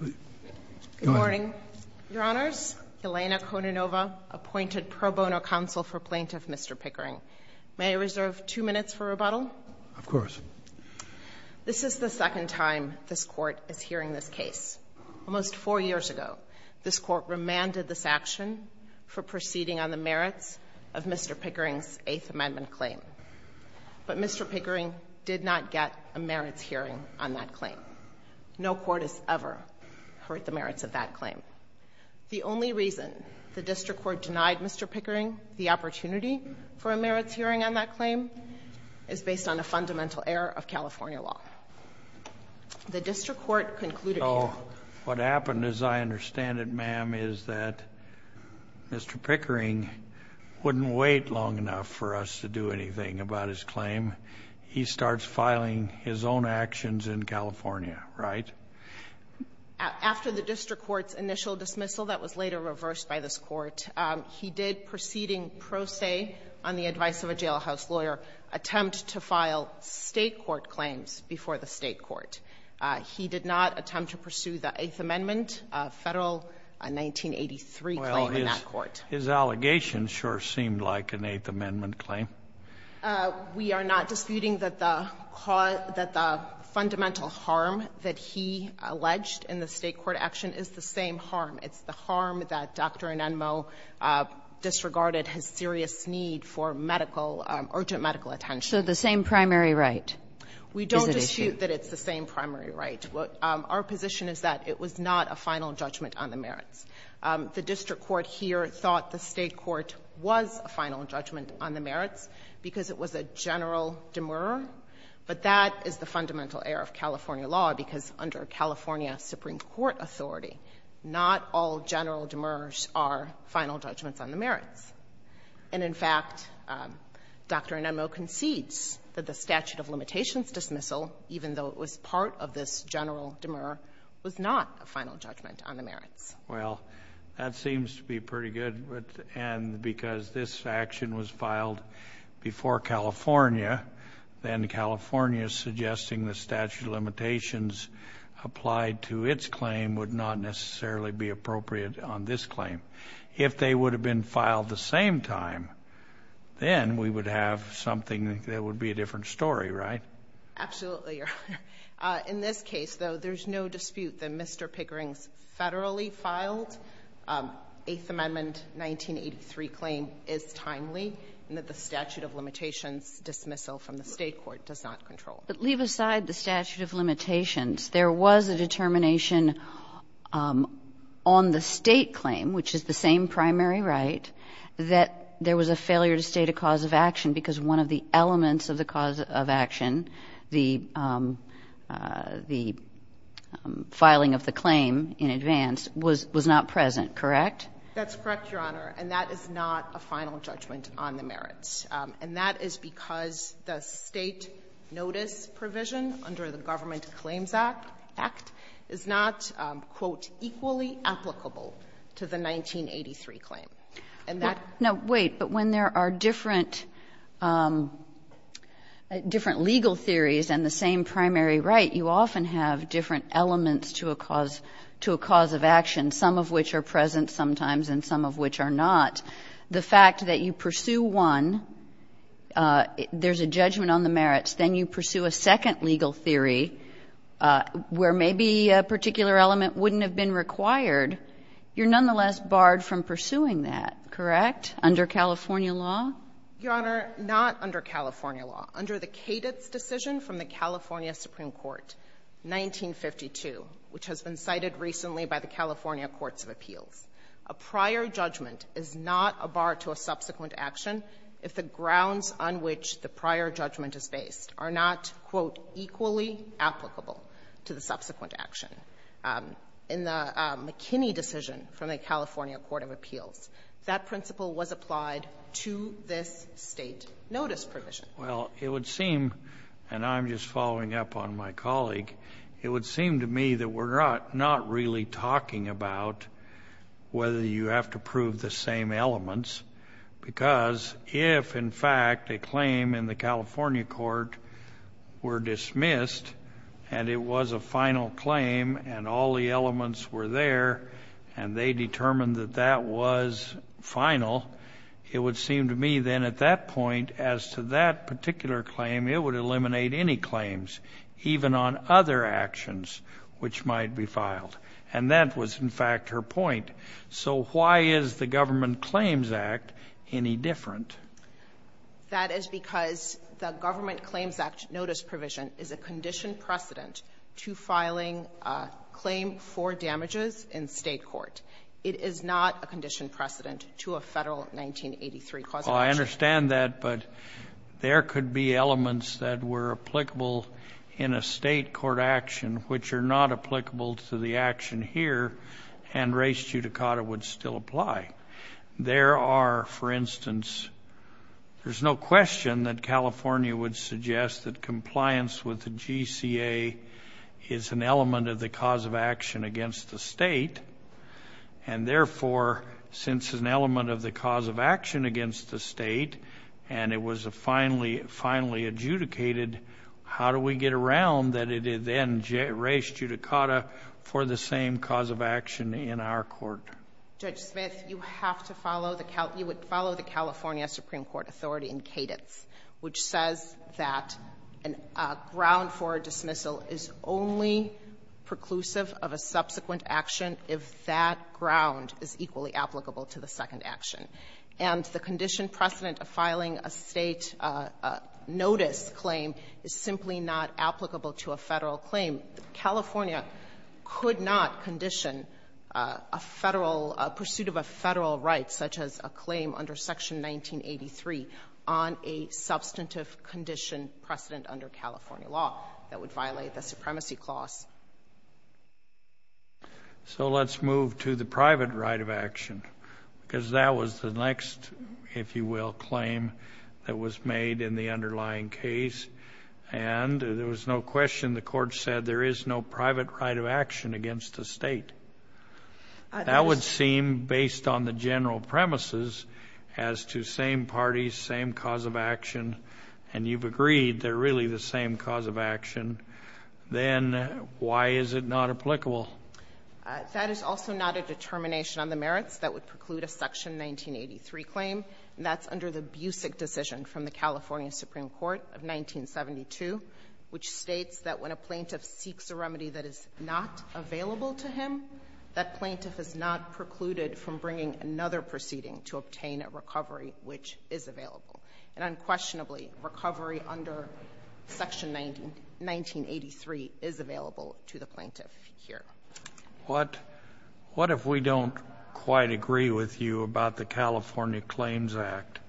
Good morning. Your Honors, Elena Kononova, appointed pro bono counsel for plaintiff Mr. Pickering. May I reserve two minutes for rebuttal? Of course. This is the second time this court is hearing this case. Almost four years ago, this court remanded this action for proceeding on the merits of Mr. Pickering's Eighth Amendment claim. But Mr. Pickering did not get a merits hearing on that claim. No court has ever heard the merits of that claim. The only reason the district court denied Mr. Pickering the opportunity for a merits hearing on that claim is based on a fundamental error of California law. The district court concluded here. So what happened, as I understand it, ma'am, is that Mr. Pickering wouldn't wait long enough for us to do anything about his claim. He starts filing his own actions in California, right? After the district court's initial dismissal that was later reversed by this court, he did, proceeding pro se on the advice of a jailhouse lawyer, attempt to file State court claims before the State court. He did not attempt to pursue the Eighth Amendment Federal 1983 claim in that court. Well, his allegation sure seemed like an Eighth Amendment claim. We are not disputing that the cause, that the fundamental harm that he alleged in the State court action is the same harm. It's the harm that Dr. Anenmo disregarded his serious need for medical, urgent medical attention. So the same primary right is at issue. We don't dispute that it's the same primary right. Our position is that it was not a final judgment on the merits. The district court here thought the State court was a final judgment on the merits because it was a general demur. But that is the fundamental error of California law because under California Supreme Court authority, not all general demurs are final judgments on the merits. And in fact, Dr. Anenmo concedes that the statute of limitations dismissal, even though it was part of this general demur, was not a final judgment on the merits. Well, that seems to be pretty good. And because this action was filed before California, then California suggesting the statute of limitations applied to its claim would not necessarily be appropriate on this claim. If they would have been filed the same time, then we would have something that would be a different story, right? Absolutely, Your Honor. In this case, though, there's no dispute that Mr. Pickering's federally filed Eighth Amendment 1983 claim is timely and that the statute of limitations dismissal from the State court does not control it. But leave aside the statute of limitations. There was a determination on the State claim, which is the same primary right, that there was a failure to state a cause of action because one of the elements of the cause of action, the filing of the claim in advance, was not present, correct? That's correct, Your Honor. And that is not a final judgment on the merits. And that is because the State notice provision under the Government Claims Act is not quote, equally applicable to the 1983 claim. No, wait. But when there are different legal theories and the same primary right, you often have different elements to a cause of action, some of which are present sometimes and some of which are not. The fact that you pursue one, there's a judgment on the merits, then you pursue a second legal theory where maybe a particular element wouldn't have been required, you're nonetheless barred from pursuing that, correct, under California law? Your Honor, not under California law. Under the cadence decision from the California Supreme Court, 1952, which has been cited recently by the California Courts of Appeals, a prior judgment is not a bar to a subsequent action if the grounds on which the prior judgment is based are not, quote, equally applicable to the subsequent action. In the McKinney decision from the California Court of Appeals, that principle was applied to this State notice provision. Well, it would seem, and I'm just following up on my colleague, it would seem to me that we're not really talking about whether you have to prove the same elements because if, in fact, a claim in the California court were dismissed and it was a final claim and all the elements were there and they determined that that was final, it would seem to me then at that point as to that particular claim, it would eliminate any claims, even on other actions which might be filed. And that was, in fact, her point. So why is the Government Claims Act any different? That is because the Government Claims Act notice provision is a conditioned precedent to filing a claim for damages in State court. It is not a conditioned precedent to a Federal 1983 cause of action. Well, I understand that, but there could be elements that were applicable in a State court action which are not applicable to the action here, and res judicata would still apply. There are, for instance, there's no question that California would suggest that is an element of the cause of action against the State, and therefore, since it's an element of the cause of action against the State and it was finally adjudicated, how do we get around that it then res judicata for the same cause of action in our court? Judge Smith, you would follow the California Supreme Court authority in cadence, which says that a ground for dismissal is only preclusive of a subsequent action if that ground is equally applicable to the second action. And the conditioned precedent of filing a State notice claim is simply not applicable to a Federal claim. California could not condition a Federal, a pursuit of a Federal right, such as a claim under Section 1983, on a substantive condition precedent under California law that would violate the supremacy clause. So let's move to the private right of action, because that was the next, if you will, claim that was made in the underlying case. And there was no question the Court said there is no private right of action against the State. That would seem, based on the general premises as to same parties, same cause of action, and you've agreed they're really the same cause of action, then why is it not applicable? That is also not a determination on the merits that would preclude a Section 1983 claim, and that's under the Busick decision from the California Supreme Court of 1972, which states that when a plaintiff seeks a remedy that is not available to him, that plaintiff is not precluded from bringing another proceeding to obtain a recovery which is available. And unquestionably, recovery under Section 1983 is available to the plaintiff here. What if we don't quite agree with you about the California Claims Act?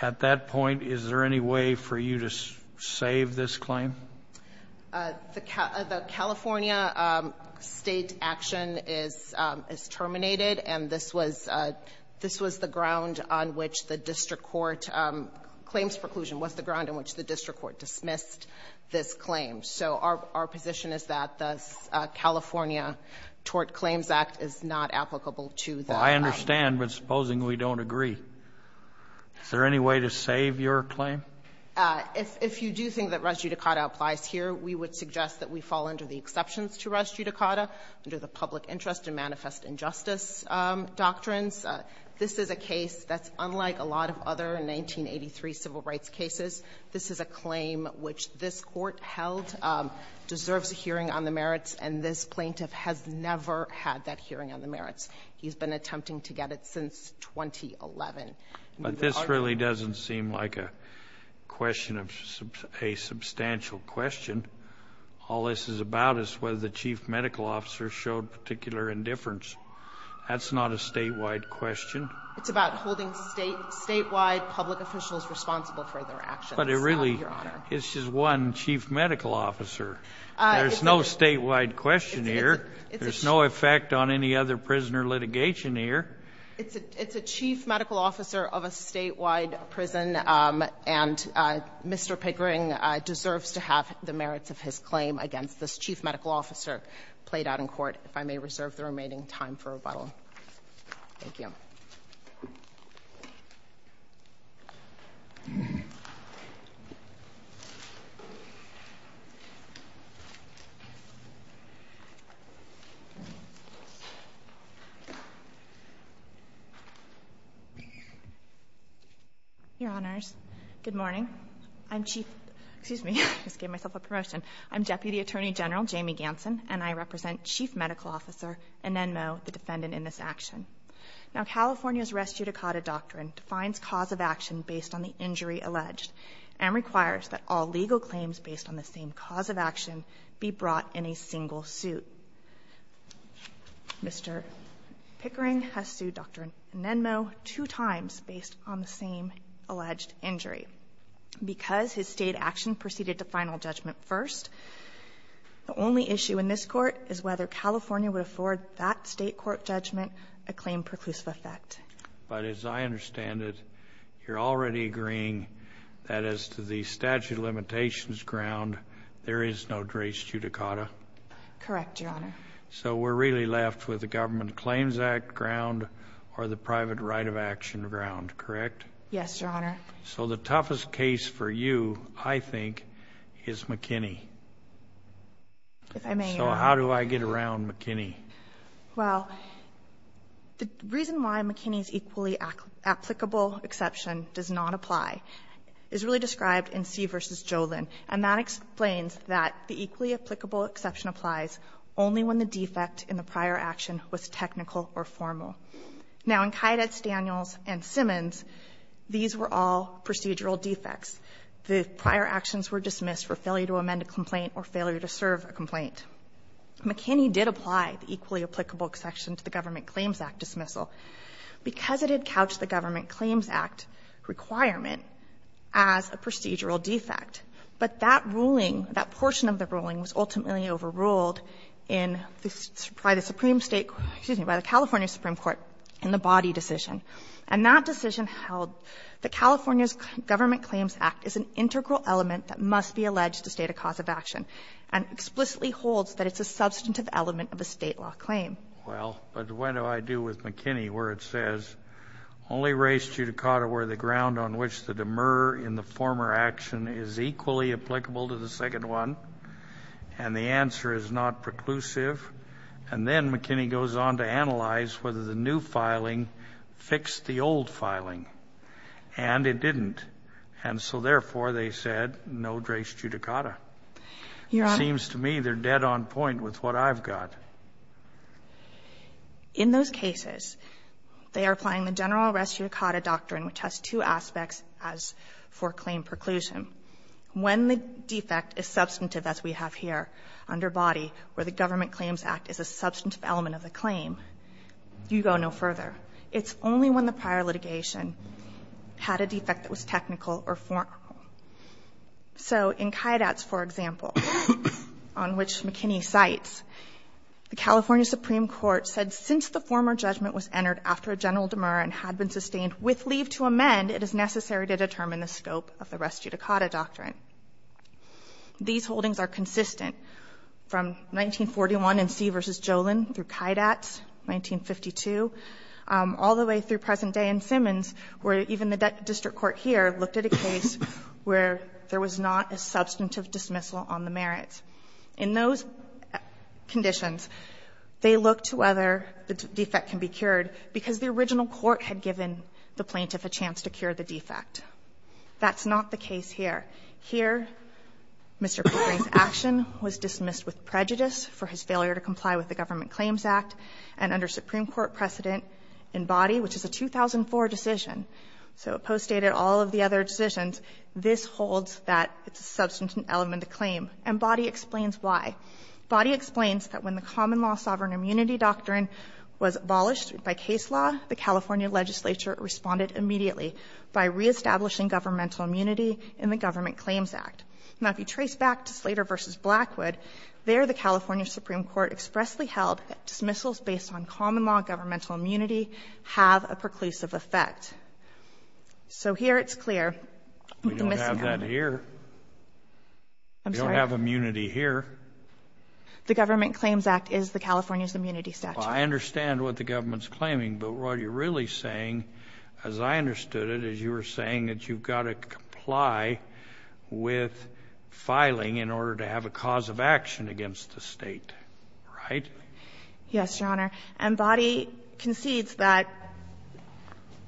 At that point, is there any way for you to save this claim? The California State action is terminated, and this was the ground on which the district court claims preclusion was the ground on which the district court dismissed this claim. So our position is that the California Tort Claims Act is not applicable to that. I understand, but supposing we don't agree, is there any way to save your claim? If you do think that res judicata applies here, we would suggest that we fall under the exceptions to res judicata under the public interest and manifest injustice doctrines. This is a case that's unlike a lot of other 1983 civil rights cases. This is a claim which this Court held deserves a hearing on the merits, and this plaintiff has never had that hearing on the merits. He's been attempting to get it since 2011. But this really doesn't seem like a question of a substantial question. All this is about is whether the chief medical officer showed particular indifference. That's not a statewide question. It's about holding statewide public officials responsible for their actions, Your Honor. But it really is just one chief medical officer. There's no statewide question here. There's no effect on any other prisoner litigation here. It's a chief medical officer of a statewide prison, and Mr. Pickering deserves to have the merits of his claim against this chief medical officer played out in court, if I may reserve the remaining time for rebuttal. Thank you. Your Honors, good morning. I'm Chief — excuse me, I just gave myself a promotion. I'm Deputy Attorney General Jamie Ganson, and I represent Chief Medical Officer Anenmo, the defendant in this action. Now, California's res judicata doctrine defines cause of action based on the injury alleged and requires that all legal claims based on the same cause of action be brought in a single suit. Mr. Pickering has sued Dr. Anenmo two times based on the same alleged injury. Because his state action proceeded to final judgment first, the only issue in this court is whether California would afford that state court judgment a claim preclusive effect. But as I understand it, you're already agreeing that as to the statute of limitations ground, there is no res judicata? Correct, Your Honor. So we're really left with the Government Claims Act ground or the private right of action ground, correct? Yes, Your Honor. So the toughest case for you, I think, is McKinney. If I may, Your Honor. So how do I get around McKinney? Well, the reason why McKinney's equally applicable exception does not apply is clearly described in C v. Jolin. And that explains that the equally applicable exception applies only when the defect in the prior action was technical or formal. Now, in Kyditz, Daniels, and Simmons, these were all procedural defects. The prior actions were dismissed for failure to amend a complaint or failure to serve a complaint. McKinney did apply the equally applicable exception to the Government Claims Act dismissal. Because it had couched the Government Claims Act requirement as a procedural defect. But that ruling, that portion of the ruling was ultimately overruled in the Supreme State, excuse me, by the California Supreme Court in the body decision. And that decision held that California's Government Claims Act is an integral element that must be alleged to state a cause of action and explicitly holds that it's a substantive element of a State law claim. Well, but what do I do with McKinney where it says, only race judicata were the ground on which the demur in the former action is equally applicable to the second one. And the answer is not preclusive. And then McKinney goes on to analyze whether the new filing fixed the old filing. And it didn't. And so, therefore, they said, no race judicata. It seems to me they're dead on point with what I've got. In those cases, they are applying the general race judicata doctrine, which has two aspects as for claim preclusion. When the defect is substantive, as we have here under body, where the Government Claims Act is a substantive element of the claim, you go no further. It's only when the prior litigation had a defect that was technical or formal. So in Kydatz, for example, on which McKinney cites, the California Supreme Court said, since the former judgment was entered after a general demur and had been sustained with leave to amend, it is necessary to determine the scope of the rest judicata doctrine. These holdings are consistent from 1941 in C v. Jolin through Kydatz, 1952, all the way through present day in Simmons, where even the district court here looked at a case where there was not a substantive dismissal on the merits. In those conditions, they look to whether the defect can be cured because the original court had given the plaintiff a chance to cure the defect. That's not the case here. Here, Mr. Pickering's action was dismissed with prejudice for his failure to comply with the Government Claims Act. And under Supreme Court precedent in Boddy, which is a 2004 decision, so it postdated all of the other decisions, this holds that it's a substantive element of claim. And Boddy explains why. Boddy explains that when the common law sovereign immunity doctrine was abolished by case law, the California legislature responded immediately by reestablishing governmental immunity in the Government Claims Act. Now, if you trace back to Slater v. Blackwood, there the California Supreme Court expressly held that dismissals based on common law governmental immunity have a preclusive effect. So here it's clear. The missing element. We don't have that here. I'm sorry? We don't have immunity here. The Government Claims Act is the California's immunity statute. Well, I understand what the government's claiming, but what you're really saying, as I understood it, is you were saying that you've got to comply with filing in order to have a cause of action against the State, right? Yes, Your Honor. And Boddy concedes that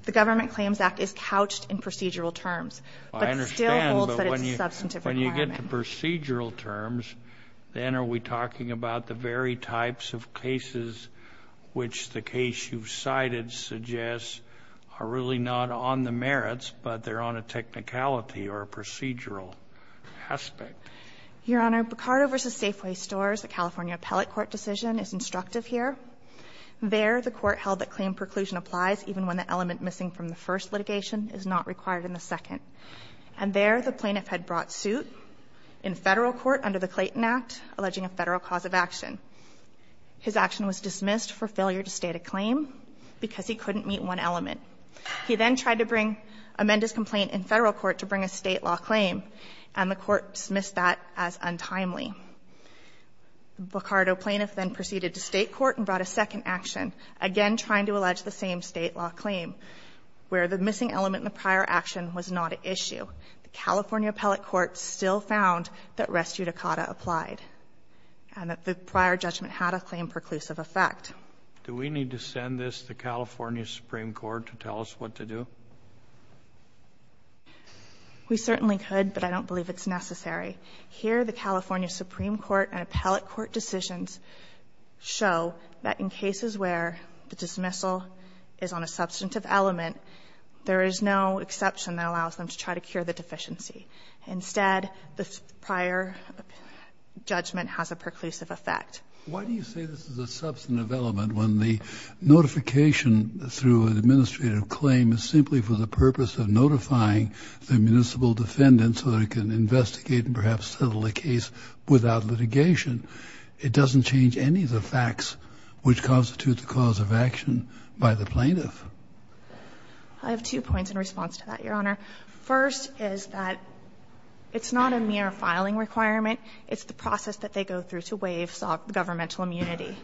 the Government Claims Act is couched in procedural terms, but still holds that it's a substantive requirement. I understand, but when you get to procedural terms, then are we talking about the very types of cases which the case you've cited suggests are really not on the merits, but they're on a technicality or a procedural aspect? Your Honor, Picardo v. Safeway Stores, the California appellate court decision, is instructive here. There, the Court held that claim preclusion applies even when the element missing from the first litigation is not required in the second. And there, the plaintiff had brought suit in Federal court under the Clayton Act, alleging a Federal cause of action. His action was dismissed for failure to state a claim because he couldn't meet one element. He then tried to bring, amend his complaint in Federal court to bring a State law claim, and the Court dismissed that as untimely. The Picardo plaintiff then proceeded to State court and brought a second action, again trying to allege the same State law claim, where the missing element in the prior action was not an issue. The California appellate court still found that res judicata applied and that the prior judgment had a claim preclusive effect. Do we need to send this to California's Supreme Court to tell us what to do? We certainly could, but I don't believe it's necessary. Here, the California Supreme Court and appellate court decisions show that in cases where the dismissal is on a substantive element, there is no exception that allows them to try to cure the deficiency. Instead, the prior judgment has a preclusive effect. Why do you say this is a substantive element when the notification through an administrative claim is simply for the purpose of notifying the municipal defendant so they can investigate and perhaps settle the case without litigation? It doesn't change any of the facts which constitute the cause of action by the plaintiff. I have two points in response to that, Your Honor. First is that it's not a mere filing requirement. It's the process that they go through to waive governmental immunity.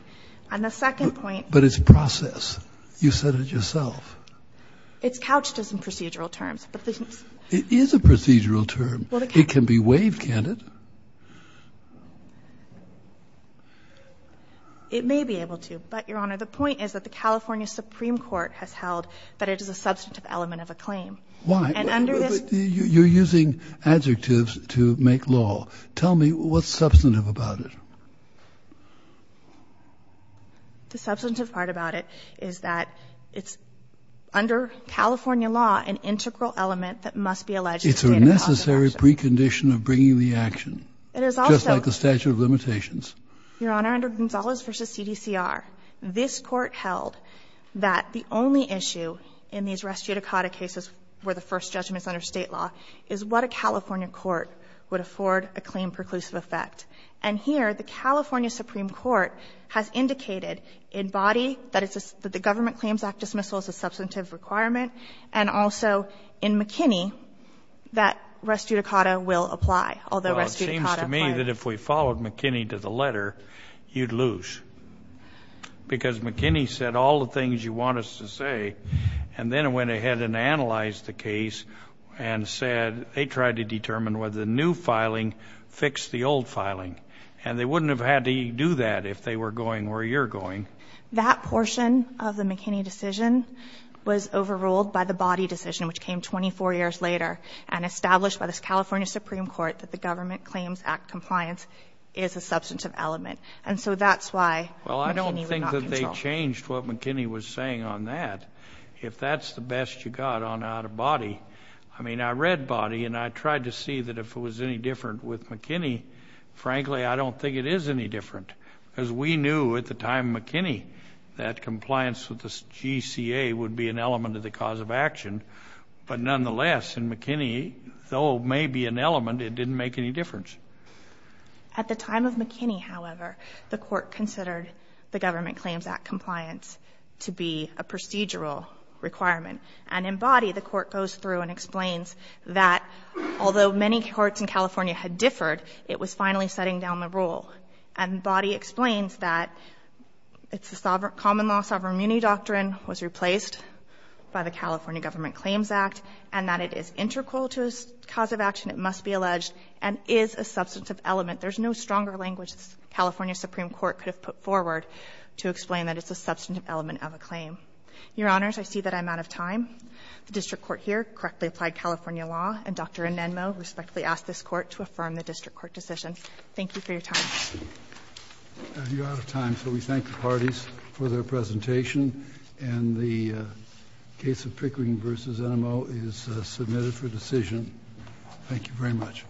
And the second point But it's process. You said it yourself. It's couched as in procedural terms. It is a procedural term. It can be waived, can't it? It may be able to. But, Your Honor, the point is that the California Supreme Court has held that it is a substantive element of a claim. Why? You're using adjectives to make law. Tell me what's substantive about it. The substantive part about it is that it's, under California law, an integral element that must be alleged to state a cause of action. It's a necessary precondition of bringing the action, just like the statute of limitations. It is also, Your Honor, under Gonzales v. CDCR, this Court held that the only issue in these res judicata cases where the first judgment is under State law is what a California court would afford a claim preclusive effect. And here, the California Supreme Court has indicated in body that the Government Claims Act dismissal is a substantive requirement, and also in McKinney, that res judicata will apply, although res judicata applies. Well, it seems to me that if we followed McKinney to the letter, you'd lose, because McKinney said all the things you want us to say. And then it went ahead and analyzed the case and said they tried to determine whether the new filing fixed the old filing. And they wouldn't have had to do that if they were going where you're going. That portion of the McKinney decision was overruled by the body decision, which came 24 years later, and established by the California Supreme Court that the Government Claims Act compliance is a substantive element. And so that's why McKinney would not control. Well, I don't think that they changed what McKinney was saying on that. If that's the best you got on out-of-body, I mean, I read body, and I tried to see that if it was any different with McKinney. Frankly, I don't think it is any different, because we knew at the time McKinney that compliance with the GCA would be an element of the cause of action. But nonetheless, in McKinney, though it may be an element, it didn't make any difference. At the time of McKinney, however, the Court considered the Government Claims Act compliance to be a procedural requirement. And in body, the Court goes through and explains that although many courts in California had differed, it was finally setting down the rule. And body explains that it's a common law, sovereign immunity doctrine was replaced by the California Government Claims Act, and that it is integral to a cause of action, it must be alleged, and is a substantive element. There's no stronger language the California Supreme Court could have put forward to explain that it's a substantive element of a claim. Your Honors, I see that I'm out of time. The district court here correctly applied California law, and Dr. Anenmo respectfully asked this Court to affirm the district court decision. Thank you for your time. You're out of time, so we thank the parties for their presentation. And the case of Pickering v. Anenmo is submitted for decision. Thank you very much.